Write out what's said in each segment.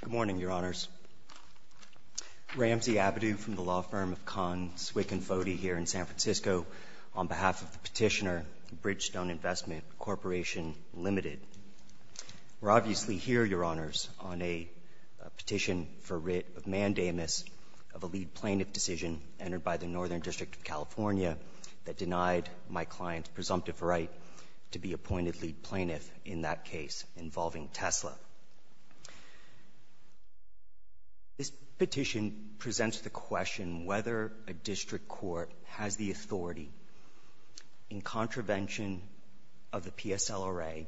Good morning, Your Honors. Ramsey Abadou from the law firm of Kahn, Swick & Fody here in San Francisco on behalf of the petitioner, Bridgestone Investment Corporation, Ltd. We're obviously here, Your Honors, on a petition for writ of mandamus of a lead plaintiff decision entered by the Northern District of California that denied my client's presumptive right to be appointed lead plaintiff in that case involving Tesla. This petition presents the question whether a district court has the authority, in contravention of the PSLRA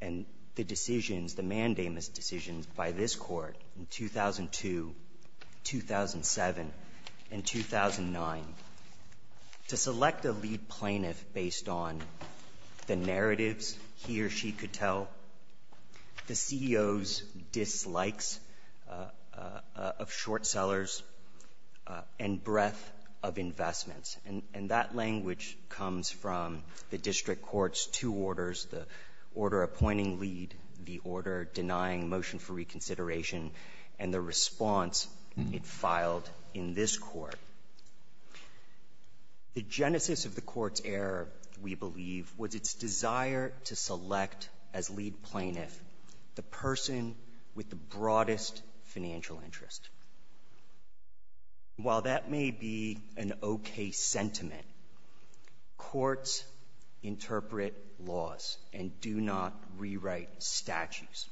and the decisions, the mandamus decisions by this court in 2002, 2007, and 2009, to select a lead plaintiff based on the narratives he or she could tell, the CEO's dislikes of short sellers, and breadth of investments. And that language comes from the district court's two orders, the order appointing lead, the order denying motion for reconsideration, and the response it filed in this court. The genesis of the court's error, we believe, was its desire to select as lead plaintiff the person with the broadest financial interest. While that may be an okay sentiment, courts interpret laws and do not rewrite statutes.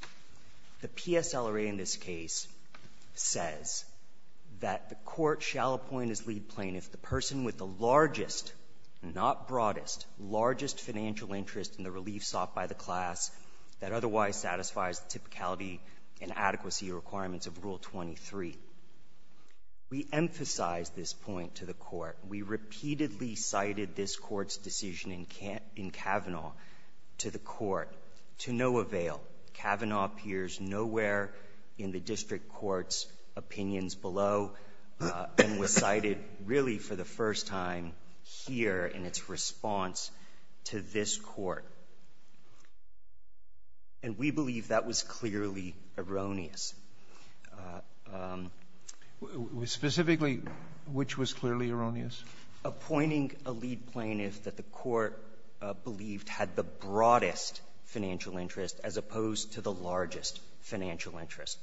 The PSLRA in this case says that the court shall appoint as lead plaintiff the person with the largest, not broadest, largest financial interest in the relief sought by the class that otherwise satisfies the typicality and adequacy requirements of Rule 23. We emphasize this point to the court. We repeatedly cited this court's decision in Kavanaugh to the court to no avail. Kavanaugh appears nowhere in the district court's opinions below and was cited really for the first time here in its response to this court. And we believe that was clearly erroneous. Specifically, which was clearly erroneous? Appointing a lead plaintiff that the court believed had the broadest financial interest as opposed to the largest financial interest.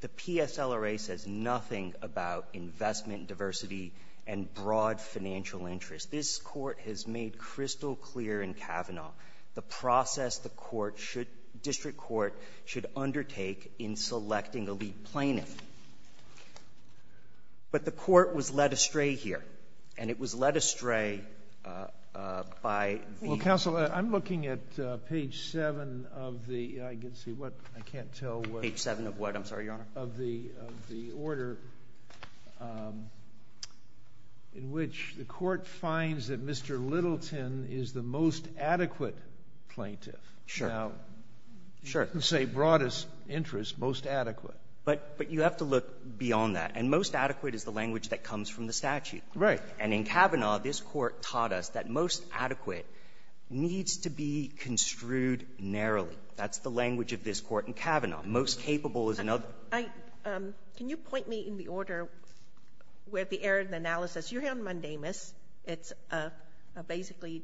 The PSLRA says nothing about investment diversity and broad financial interest. This Court has made crystal clear in Kavanaugh the process the court should, district court, should undertake in selecting a lead plaintiff. But the court was led astray here, and it was led astray by the ---- I can't see what. I can't tell what. Page 7 of what? I'm sorry, Your Honor. Of the order in which the court finds that Mr. Littleton is the most adequate plaintiff. Sure. Now, you can say broadest interest, most adequate. But you have to look beyond that. And most adequate is the language that comes from the statute. And in Kavanaugh, this Court taught us that most adequate needs to be construed narrowly. That's the language of this Court in Kavanaugh. Most capable is another. I can you point me in the order where the error in the analysis. You're here on mundamus. It's a basically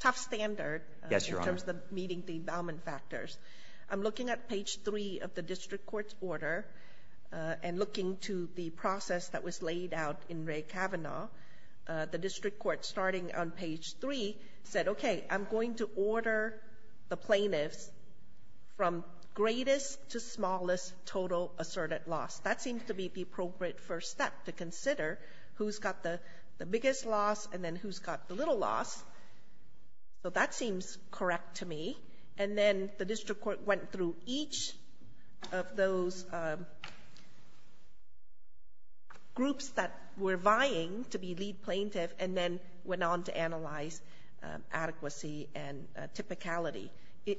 tough standard in terms of meeting the empowerment factors. I'm looking at page 3 of the district court's order and looking to the process that was laid out in Ray Kavanaugh. The district court, starting on page 3, said, okay, I'm going to order the plaintiffs from greatest to smallest total asserted loss. That seems to be the appropriate first step to consider. Who's got the biggest loss and then who's got the little loss. So that seems correct to me. And then the district court went through each of those groups that were to be lead plaintiff and then went on to analyze adequacy and typicality.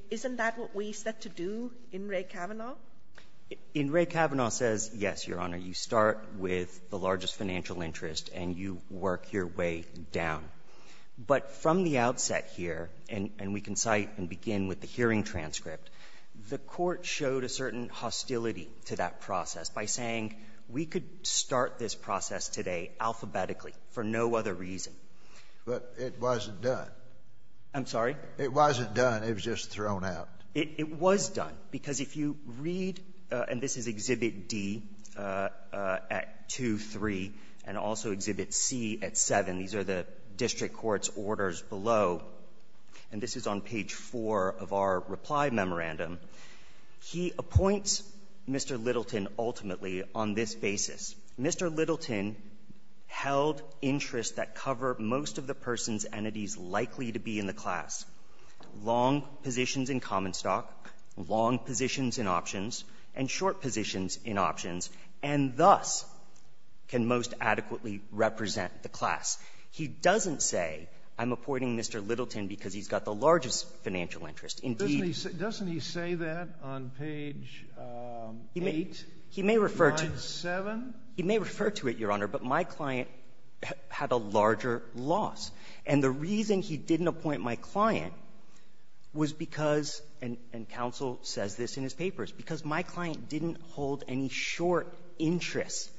Isn't that what we set to do in Ray Kavanaugh? In Ray Kavanaugh, it says, yes, Your Honor, you start with the largest financial interest and you work your way down. But from the outset here, and we can cite and begin with the hearing transcript, the Court showed a certain hostility to that process by saying we could start this process today alphabetically for no other reason. But it wasn't done. I'm sorry? It wasn't done. It was just thrown out. It was done. Because if you read, and this is Exhibit D at 2, 3, and also Exhibit C at 7. These are the district court's orders below. And this is on page 4 of our reply memorandum. He appoints Mr. Littleton ultimately on this basis. Mr. Littleton held interests that cover most of the person's entities likely to be in the class, long positions in common stock, long positions in options, and short positions in options, and thus can most adequately represent the class. He doesn't say, I'm appointing Mr. Littleton because he's got the largest financial interest. Indeed he doesn't. He may refer to it, Your Honor, but my client had a larger loss. And the reason he didn't appoint my client was because, and counsel says this in his papers, because my client didn't hold any short interests.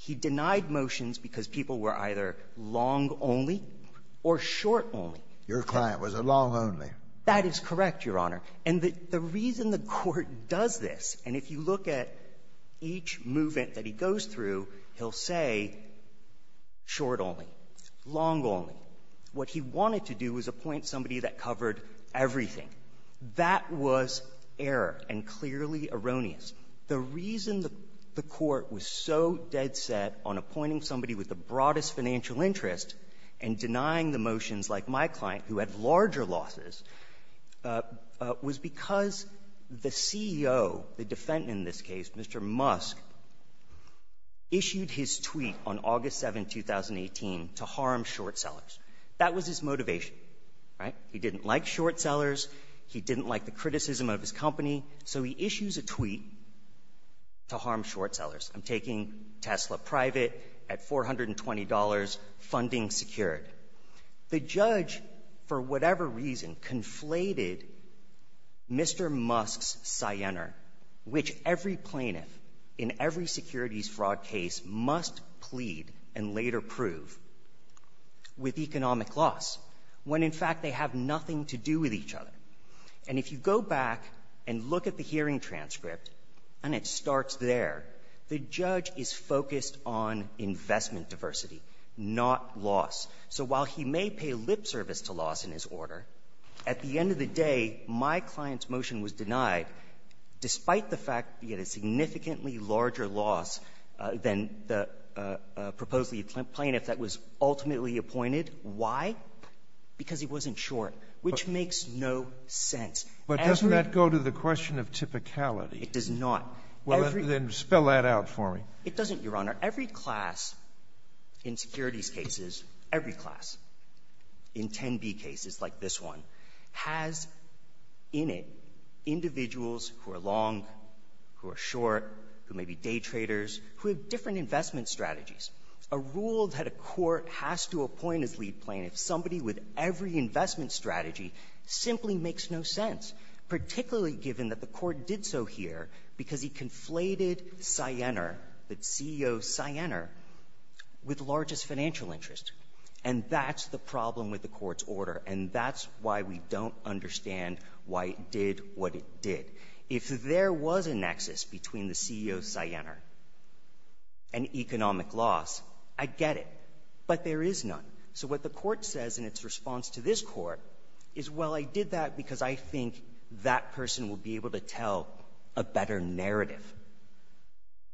He denied motions because people were either long only or short only. Your client was a long only. That is correct, Your Honor. And the reason the Court does this, and if you look at each movement that he goes through, he'll say short only, long only. What he wanted to do was appoint somebody that covered everything. That was error and clearly erroneous. The reason the Court was so dead set on appointing somebody with the broadest financial interest and denying the motions like my client, who had larger losses, was because the CEO, the defendant in this case, Mr. Musk, issued his tweet on August 7, 2018, to harm short sellers. That was his motivation, right? He didn't like short sellers. He didn't like the criticism of his company. So he issues a tweet to harm short sellers. I'm taking Tesla private at $420, funding secured. The judge, for whatever reason, conflated Mr. Musk's Sienner, which every plaintiff in every securities fraud case must plead and later prove with economic loss, when in fact they have nothing to do with each other. And if you go back and look at the hearing transcript, and it starts there, the judge is focused on investment diversity, not loss. So while he may pay lip service to loss in his order, at the end of the day, my client's motion was denied, despite the fact that he had a significantly larger loss than the proposed plaintiff that was ultimately appointed. Why? Because he wasn't short, which makes no sense. As we go to the question of typicality. It does not. Well, then spell that out for me. It doesn't, Your Honor. Every class in securities cases, every class, in 10b cases like this one, has in it individuals who are long, who are short, who may be day traders, who have different investment strategies. A rule that a court has to appoint as lead plaintiff, somebody with every investment strategy, simply makes no sense, particularly given that the court did so here because he conflated Sienner, the CEO Sienner, with largest financial interest. And that's the problem with the Court's order, and that's why we don't understand why it did what it did. If there was a nexus between the CEO Sienner and economic loss, I'd get it. But there is none. So what the Court says in its response to this Court is, well, I did that because I think that person will be able to tell a better narrative.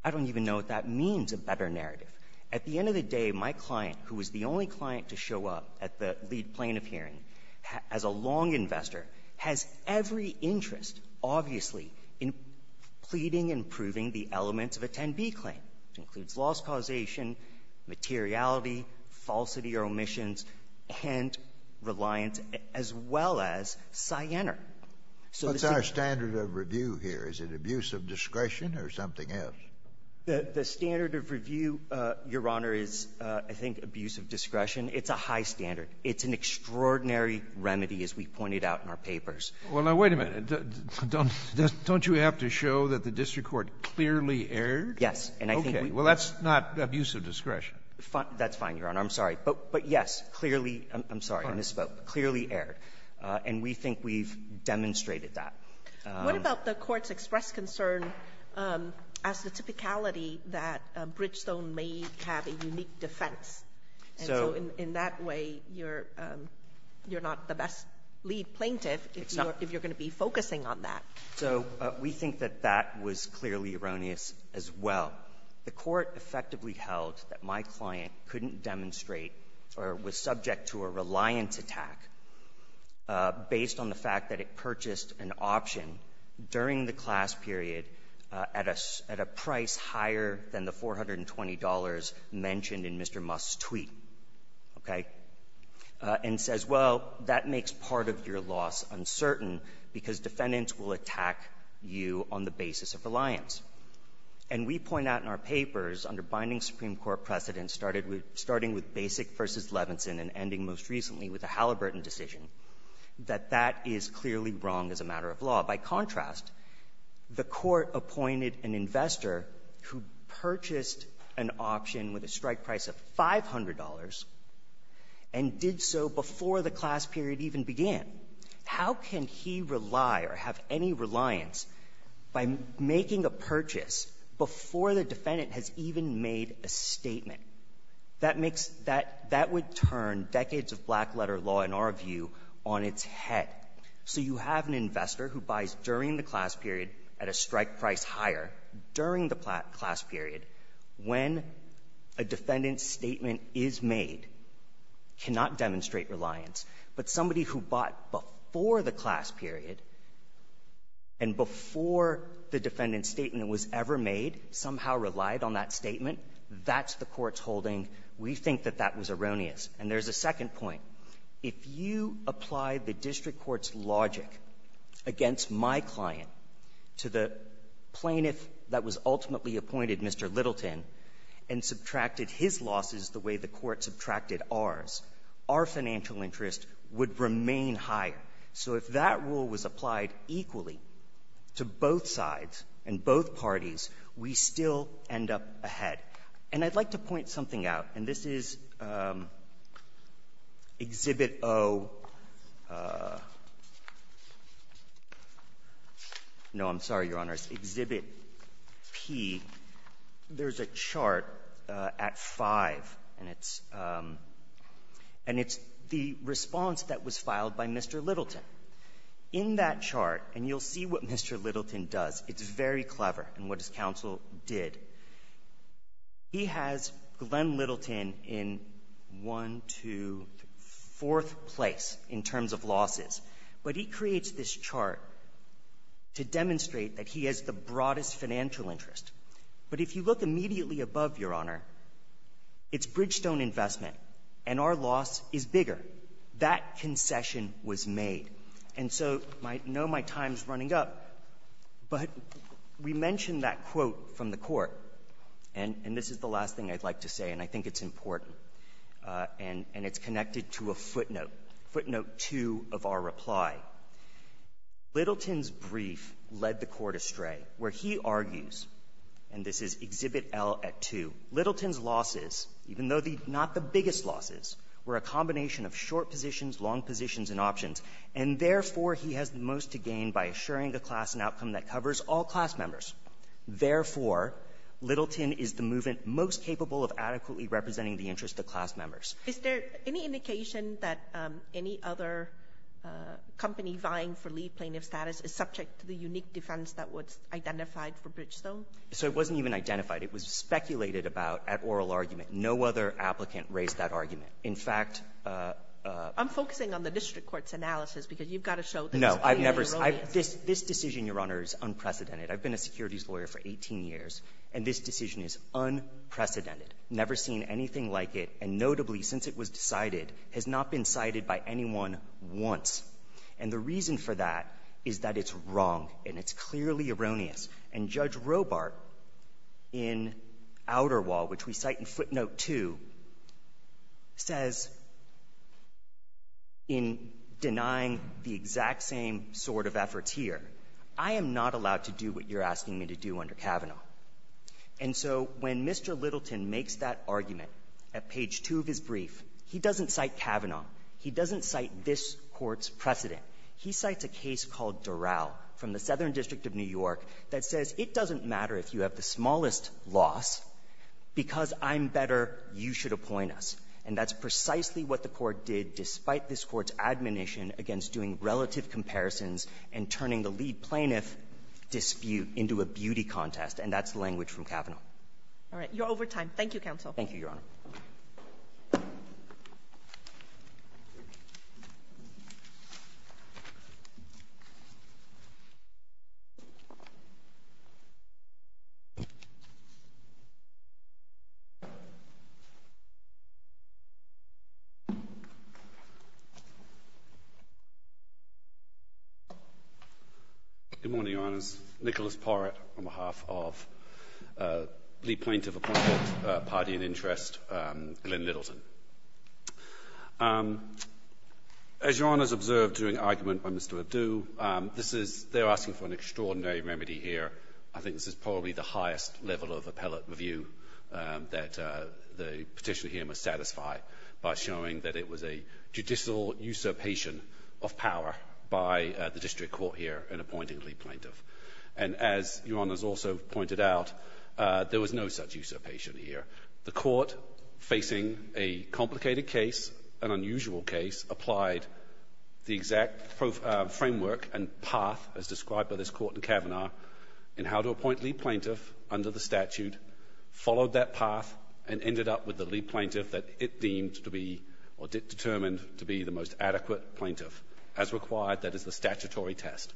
I don't even know what that means, a better narrative. At the end of the day, my client, who was the only client to show up at the lead plaintiff hearing as a long investor, has every interest, obviously, in pleading and proving the elements of a 10b claim, which includes loss causation, materiality, falsity or omissions, and reliance, as well as Sienner. Kennedy. What's our standard of review here? Is it abuse of discretion or something else? Srinivasan. The standard of review, Your Honor, is, I think, abuse of discretion. It's a high standard. It's an extraordinary remedy, as we pointed out in our papers. Well, now, wait a minute. Don't you have to show that the district court clearly erred? Yes. And I think we — Okay. Well, that's not abuse of discretion. That's fine, Your Honor. I'm sorry. But yes, clearly — I'm sorry. I misspoke. Clearly erred. And we think we've demonstrated that. What about the Court's expressed concern as the typicality that Bridgestone may have a unique defense? So in that way, you're not the best lead plaintiff if you're going to be focusing on that. So we think that that was clearly erroneous as well. The Court effectively held that my client couldn't demonstrate or was subject to a reliance attack based on the fact that it purchased an option during the class period at a — at a price higher than the $420 mentioned in Mr. Musk's tweet, okay, and says, well, that makes part of your loss uncertain because defendants will attack you on the basis of reliance. And we point out in our papers under binding Supreme Court precedent, starting with Basic v. Levinson and ending most recently with a Halliburton decision, that that is clearly wrong as a matter of law. By contrast, the Court appointed an investor who purchased an option with a strike price of $500 and did so before the class period even began. How can he rely or have any reliance by making a purchase of an option at a price higher than the purchase before the defendant has even made a statement? That makes — that would turn decades of black-letter law, in our view, on its head. So you have an investor who buys during the class period at a strike price higher during the class period when a defendant's statement is made, cannot demonstrate reliance, but somebody who bought before the class period and before the defendant 's statement was ever made somehow relied on that statement. That's the Court's holding. We think that that was erroneous. And there's a second point. If you apply the district court's logic against my client to the plaintiff that was ultimately appointed, Mr. Littleton, and subtracted his losses the way the Court subtracted ours, our financial interest would remain higher. So if that rule was applied equally to both sides and both parties, we still end up ahead. And I'd like to point something out, and this is Exhibit O — no, I'm sorry, Your Honors. Exhibit P. There's a chart at 5, and it's — and it's the response that was filed by Mr. Littleton. In that chart — and you'll see what Mr. Littleton does. It's very clever, and what his counsel did. He has Glenn Littleton in 1, 2, 4 place in terms of losses. But he creates this chart to demonstrate that he has the broadest financial interest. But if you look immediately above, Your Honor, it's Bridgestone investment, and our loss is bigger. That concession was made. And so my — no, my time's running up. But we mentioned that quote from the Court, and this is the last thing I'd like to say, and I think it's important, and it's connected to a footnote, footnote 2 of our reply. Littleton's brief led the Court astray, where he argues, and this is Exhibit L at 2, Littleton's losses, even though the — not the biggest losses, were a combination of short positions, long positions, and options. And therefore, he has the most to gain by assuring a class and outcome that covers all class members. Therefore, Littleton is the movement most capable of adequately representing the interests of class members. Ginsburg. Is there any indication that any other company vying for lead plaintiff status is subject to the unique defense that was identified for Bridgestone? So it wasn't even identified. It was speculated about at oral argument. No other applicant raised that argument. In fact — I'm focusing on the district court's analysis, because you've got to show that it's clearly erroneous. No. I've never — this decision, Your Honor, is unprecedented. I've been a securities lawyer for 18 years, and this decision is unprecedented. Never seen anything like it, and notably, since it was decided, has not been cited by anyone once. And the reason for that is that it's wrong, and it's clearly erroneous. And Judge Robart in Outerwall, which we cite in footnote 2, says in denying the exact same sort of efforts here, I am not allowed to do what you're asking me to do under Kavanaugh. And so when Mr. Littleton makes that argument at page 2 of his brief, he doesn't cite Kavanaugh. He doesn't cite this Court's precedent. He cites a case called Durao from the Southern District of New York that says it doesn't matter if you're the smallest loss, because I'm better, you should appoint us. And that's precisely what the Court did, despite this Court's admonition against doing relative comparisons and turning the lead plaintiff dispute into a beauty contest. And that's the language from Kavanaugh. Kagan. You're over time. Thank you, counsel. Thank you, Your Honor. Good morning, Your Honors. Nicholas Porrett, on behalf of the plaintiff party in interest, Glyn Littleton. As Your Honors observed during argument by Mr. Adu, this is they're asking for an extraordinary remedy here. I think this is probably the highest level of appellate review that the Petitioner here must satisfy by showing that it was a judicial usurpation of power by the district court here in appointing the lead plaintiff. And as Your Honors also pointed out, there was no such usurpation here. The Court, facing a complicated case, an unusual case, applied the exact framework and path as described by this Court in Kavanaugh in how to appoint lead plaintiff under the statute, followed that path, and ended up with the lead plaintiff that it deemed to be or determined to be the most adequate plaintiff. As required, that is the statutory test.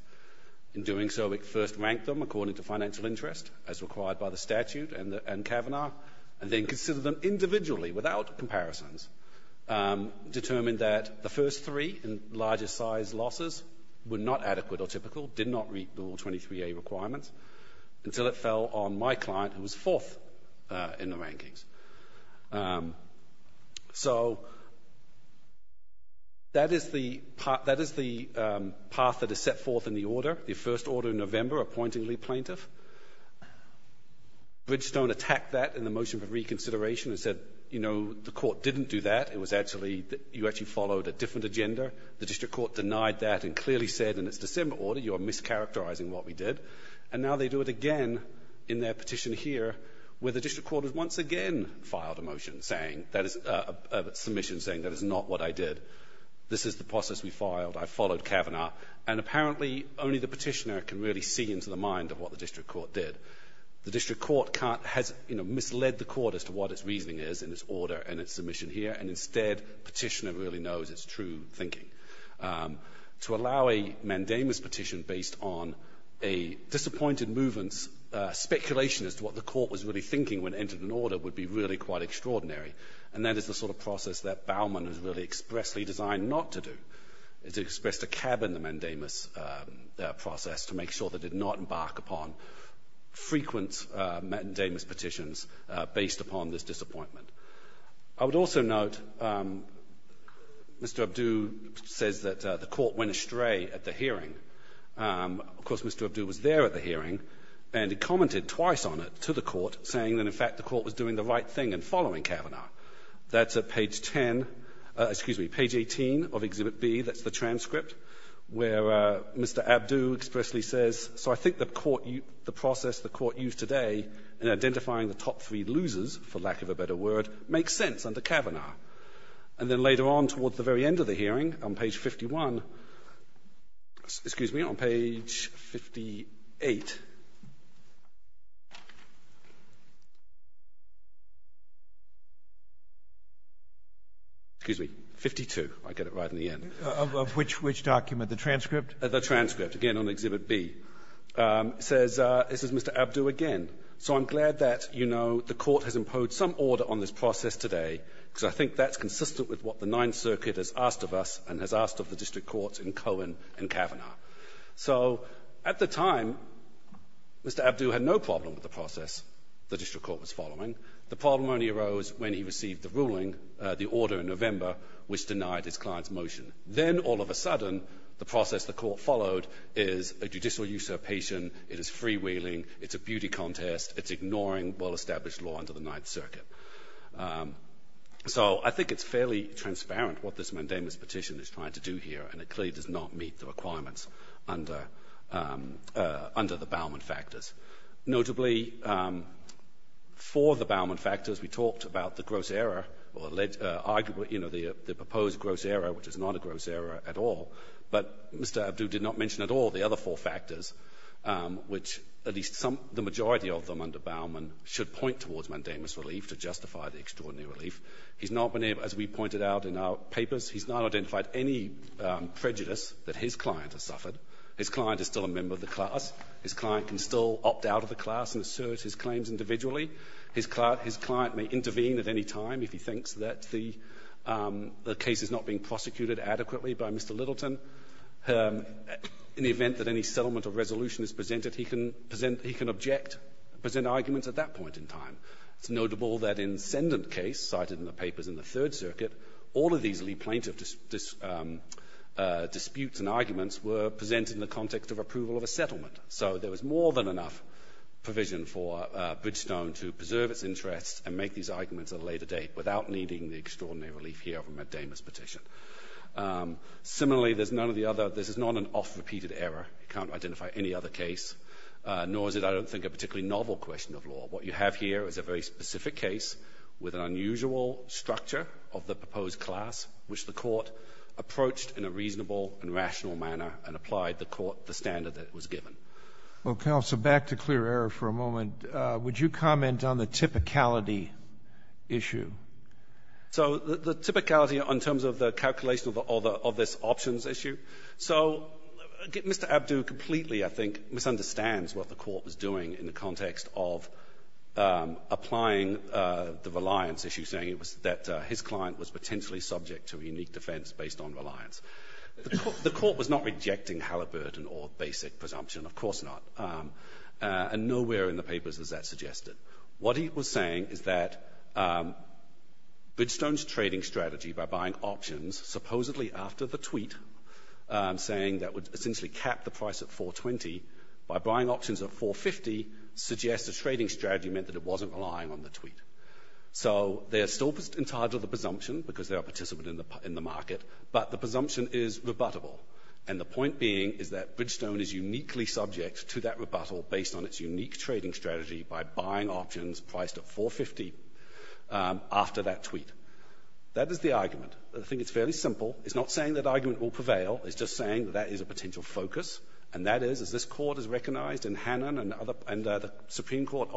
In doing so, it first ranked them according to financial interest, as required by the statute and Kavanaugh, and then considered them individually without comparisons, determined that the first three largest size losses were not adequate or typical, did not meet the rule 23A requirements, until it fell on my client who was fourth in the rankings. So that is the path that is set forth in the order, the first order in November appointing lead plaintiff. Bridgestone attacked that in the motion for reconsideration and said, you know, the Court didn't do that. It was actually you actually followed a different agenda. The district court denied that and clearly said in its December order you are mischaracterizing what we did. And now they do it again in their petition here where the district court has once again filed a motion saying that is a submission saying that is not what I did. This is the process we filed. I followed Kavanaugh. And apparently only the petitioner can really see into the mind of what the district court did. The district court can't, has, you know, misled the court as to what its reasoning is in its order and its submission here. And instead, petitioner really knows its true thinking. To allow a mandamus petition based on a disappointed movement's speculation as to what the court was really thinking when it entered an order would be really quite extraordinary. And that is the sort of process that Baumann is really expressly designed not to do. It's expressed a cab in the mandamus process to make sure that it did not embark upon frequent mandamus petitions based upon this disappointment. I would also note Mr. Abdu says that the court went astray at the hearing. Of course, Mr. Abdu was there at the hearing and he commented twice on it to the court saying that in fact the court was doing the right thing in following Kavanaugh. That's at page 10, excuse me, page 18 of Exhibit B. That's the transcript where Mr. Abdu expressly says, so I think the court used the process the court used today in identifying the top three losers, for lack of a better word, makes sense under Kavanaugh. And then later on towards the very end of the hearing on page 51, excuse me, on page 58, Mr. Abdu said that the court was doing the right thing. Excuse me, 52. I get it right in the end. Roberts. Of which document? The transcript? The transcript, again, on Exhibit B. It says, it says Mr. Abdu again. So I'm glad that, you know, the court has imposed some order on this process today, because I think that's consistent with what the Ninth Circuit has asked of us and has asked of the district courts in Cohen and Kavanaugh. So at the time, Mr. Abdu had no problem with the process the district court was following. The problem only arose when he received the ruling, the order in November, which denied his client's motion. Then, all of a sudden, the process the court followed is a judicial usurpation, it is freewheeling, it's a beauty contest, it's ignoring well-established law under the Ninth Circuit. So I think it's fairly transparent what this mandamus petition is trying to do here, and it clearly does not meet the requirements under the Bauman factors. Notably, for the Bauman factors, we talked about the gross error, or arguably, you know, the proposed gross error, which is not a gross error at all. But Mr. Abdu did not mention at all the other four factors, which at least some of the majority of them under Bauman should point towards mandamus relief to justify the extraordinary relief. He's not been able, as we pointed out in our papers, he's not identified any prejudice that his client has suffered. His client is still a member of the class. His client can still opt out of the class and assert his claims individually. His client may intervene at any time if he thinks that the case is not being prosecuted adequately by Mr. Littleton. In the event that any settlement of resolution is presented, he can present he can object, present arguments at that point in time. It's notable that in Sendant case, cited in the papers in the Third Circuit, all of these plaintiff disputes and arguments were presented in the context of approval of a settlement. So there was more than enough provision for Bridgestone to preserve its interests and make these arguments at a later date without needing the extraordinary relief here of a mandamus petition. Similarly, there's none of the other. This is not an oft-repeated error. You can't identify any other case, nor is it, I don't think, a particularly novel question of law. What you have here is a very specific case with an unusual structure of the proposed class, which the Court approached in a reasonable and rational manner and applied the Court the standard that it was given. Roberts. Well, counsel, back to clear error for a moment. Would you comment on the typicality issue? So the typicality in terms of the calculation of the other of this options issue. So Mr. Abdu completely, I think, misunderstands what the Court was doing in the context of applying the reliance issue, saying it was that his client was potentially subject to a unique defense based on reliance. The Court was not rejecting Halliburton or basic presumption, of course not. And nowhere in the papers is that suggested. What he was saying is that Bridgestone's trading strategy by buying options supposedly after the tweet, saying that would that it wasn't relying on the tweet. So they are still in charge of the presumption because they are a participant in the market, but the presumption is rebuttable. And the point being is that Bridgestone is uniquely subject to that rebuttal based on its unique trading strategy by buying options priced at $450 after that tweet. That is the argument. I think it's fairly simple. It's not saying that argument will prevail. It's just saying that that is a potential focus, and that is, as this Court has recognized in Hannon and the Supreme Court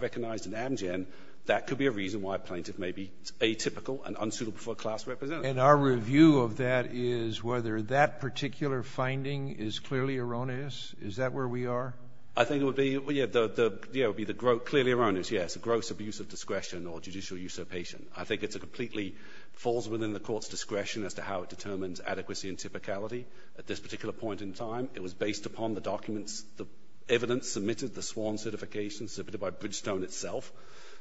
recognized in Amgen, that could be a reason why a plaintiff may be atypical and unsuitable for a class representative. And our review of that is whether that particular finding is clearly erroneous. Is that where we are? I think it would be, yeah, it would be clearly erroneous, yes, gross abuse of discretion or judicial usurpation. I think it completely falls within the Court's discretion as to how it determines adequacy and typicality at this particular point in time. It was based upon the documents, the evidence submitted, the sworn certification submitted by Bridgestone itself.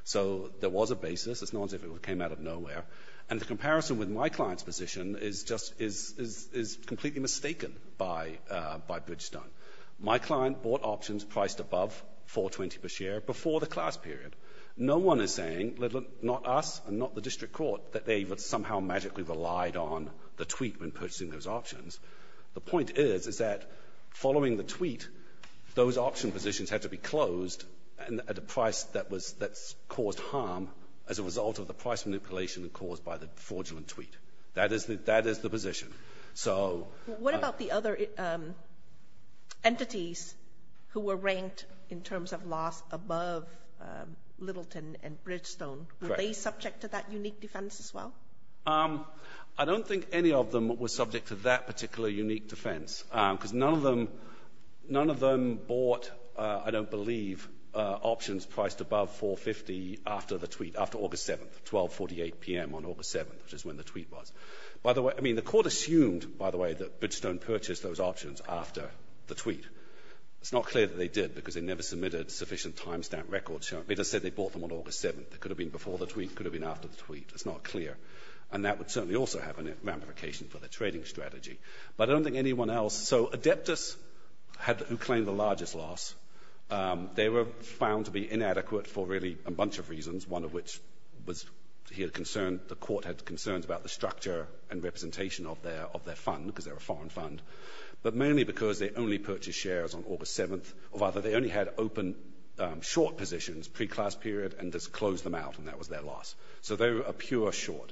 So there was a basis. It's not as if it came out of nowhere. And the comparison with my client's position is just, is completely mistaken by Bridgestone. My client bought options priced above $420 per share before the class period. No one is saying, not us and not the district court, that they somehow magically relied on the tweet when purchasing those options. The point is, is that following the tweet, those option positions had to be closed at a price that was — that caused harm as a result of the price manipulation caused by the fraudulent tweet. That is the — that is the position. So — What about the other entities who were ranked in terms of loss above Littleton and Bridgestone? Correct. Were they subject to that unique defense as well? I don't think any of them were subject to that particular unique defense, because none of them — none of them bought, I don't believe, options priced above $450 after the tweet, after August 7th, 12.48 p.m. on August 7th, which is when the tweet was. By the way — I mean, the court assumed, by the way, that Bridgestone purchased those options after the tweet. It's not clear that they did, because they never submitted sufficient timestamp records showing — they just said they bought them on August 7th. It could have been before the tweet. It could have been after the tweet. It's not clear. And that would certainly also have a ramification for the trading strategy. But I don't think anyone else — so Adeptus had — who claimed the largest loss, they were found to be inadequate for really a bunch of reasons, one of which was he had concern — the court had concerns about the structure and representation of their — of their fund, because they were a foreign fund, but mainly because they only purchased shares on August 7th. Or rather, they only had open — short positions, pre-class period, and just closed them out, and that was their loss. So they were a pure short.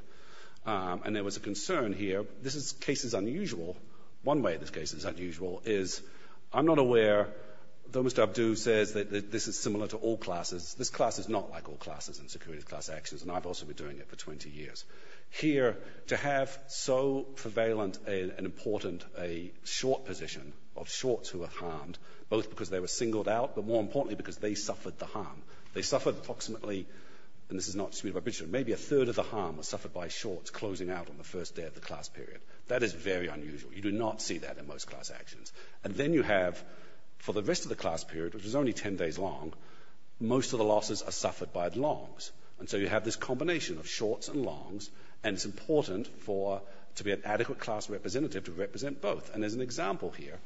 And there was a concern here — this is cases unusual. One way this case is unusual is — I'm not aware, though Mr. Abdu says that this is similar to all classes — this class is not like all classes in security class actions, and I've also been doing it for 20 years. Here, to have so prevalent an important — a short position of shorts who were harmed, both because they were singled out, but more importantly because they suffered the harm. They suffered approximately — and this is not disputed by Bridgestone — maybe a third of the harm was suffered by shorts closing out on the first day of the class period. That is very unusual. You do not see that in most class actions. And then you have, for the rest of the class period, which was only 10 days long, most of the losses are suffered by longs. And so you have this combination of shorts and longs, and it's important for — to be an adequate class representative to represent both. And there's an example here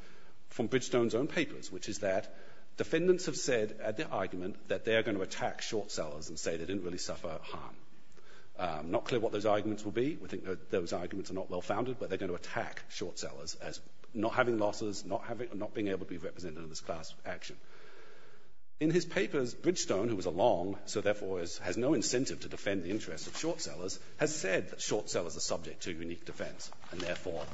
from Bridgestone's own papers, which is that defendants have said at the argument that they are going to attack short sellers and say they didn't really suffer harm. Not clear what those arguments will be. We think that those arguments are not well-founded, but they're going to attack short sellers as not having losses, not having — not being able to be represented in this class action. In his papers, Bridgestone, who was a long, so therefore has no incentive to defend the interests of short sellers, has said that short sellers are subject to unique defense, and therefore,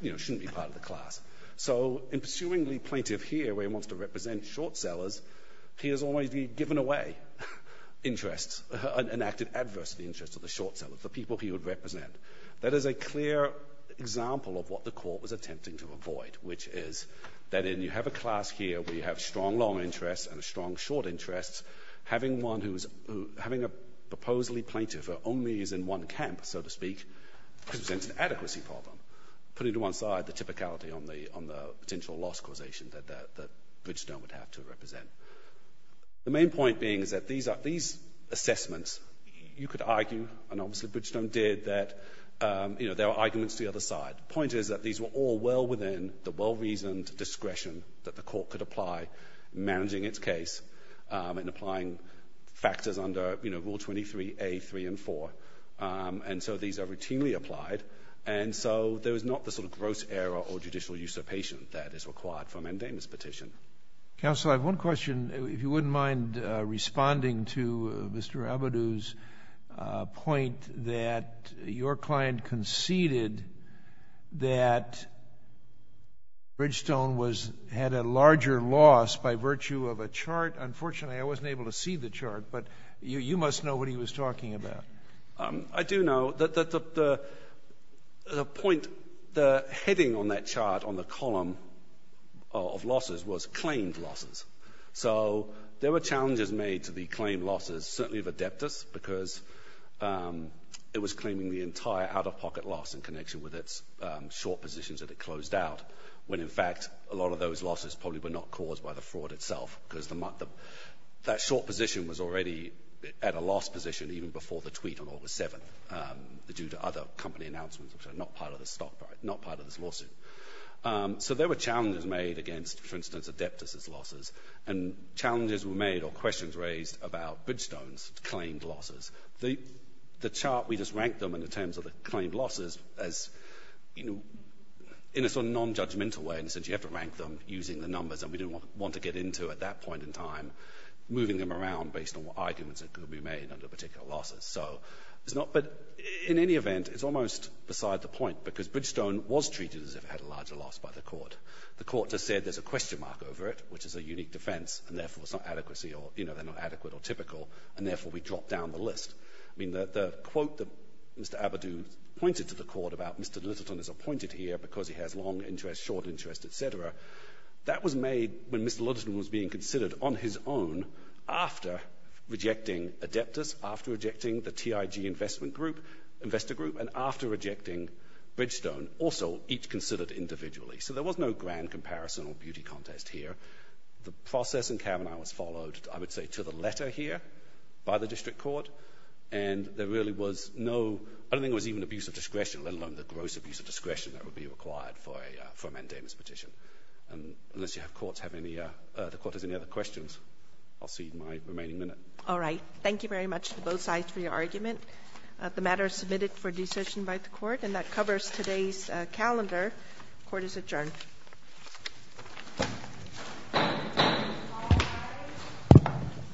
you know, shouldn't be part of the class. So in pursuing the plaintiff here, where he wants to represent short sellers, he has always given away interests, enacted adversity interests of the short sellers, the people he would represent. That is a clear example of what the Court was attempting to avoid, which is that in — you have a class here where you have strong long interests and a strong short interest. Having one who's — having a proposedly plaintiff who only is in one camp, so to speak, presents an adequacy problem, putting to one side the typicality on the — on the potential loss causation that — that Bridgestone would have to represent. The main point being is that these are — these assessments, you could argue, and obviously Bridgestone did, that, you know, there are arguments to the other side. The point is that these were all well within the well-reasoned discretion that the Court could apply in managing its case and applying factors under, you know, Rule 23A, 3, and 4, and so these are routinely applied, and so there is not the sort of gross error or judicial usurpation that is required for a mandamus petition. Counsel, I have one question, if you wouldn't mind responding to Mr. Abadou's point that your client conceded that Bridgestone was — had a larger loss by virtue of a chart. Unfortunately, I wasn't able to see the chart, but you — you must know what he was talking about. I do know that the — the point — the heading on that chart on the column of losses was claimed losses. So there were challenges made to the claimed losses, certainly of Adeptus, because it was claiming the entire out-of-pocket loss in connection with its short positions that it closed out, when, in fact, a lot of those losses probably were not caused by the fraud itself, because the — that short position was already at a loss position even before the tweet on August 7th, due to other company announcements, which are not part of the stock price, not part of this lawsuit. So there were challenges made against, for instance, Adeptus's losses, and challenges were made or questions raised about Bridgestone's claimed losses. The — the chart, we just ranked them in terms of the claimed losses as, you know, in a sort of non-judgmental way, and said you have to rank them using the numbers, and we didn't want to get into at that point in time, based on what arguments that could be made under particular losses. So it's not — but in any event, it's almost beside the point, because Bridgestone was treated as if it had a larger loss by the court. The court just said there's a question mark over it, which is a unique defense, and therefore it's not adequacy or, you know, they're not adequate or typical, and therefore we dropped down the list. I mean, the — the quote that Mr. Abadou pointed to the court about Mr. Lyttelton is appointed here because he has long interest, short interest, etc., that was made when Mr. Lyttelton was being considered on his own after rejecting Adeptus, after rejecting the TIG investment group, investor group, and after rejecting Bridgestone, also each considered individually. So there was no grand comparison or beauty contest here. The process in Kavanaugh was followed, I would say, to the letter here by the district court, and there really was no — I don't think it was even abuse of discretion, let alone the gross abuse of discretion that would be required for a — for a mandamus petition. And unless you have courts have any — the court has any questions, I'll see you in my remaining minute. All right. Thank you very much to both sides for your argument. The matter is submitted for decision by the court, and that covers today's calendar. The court is adjourned.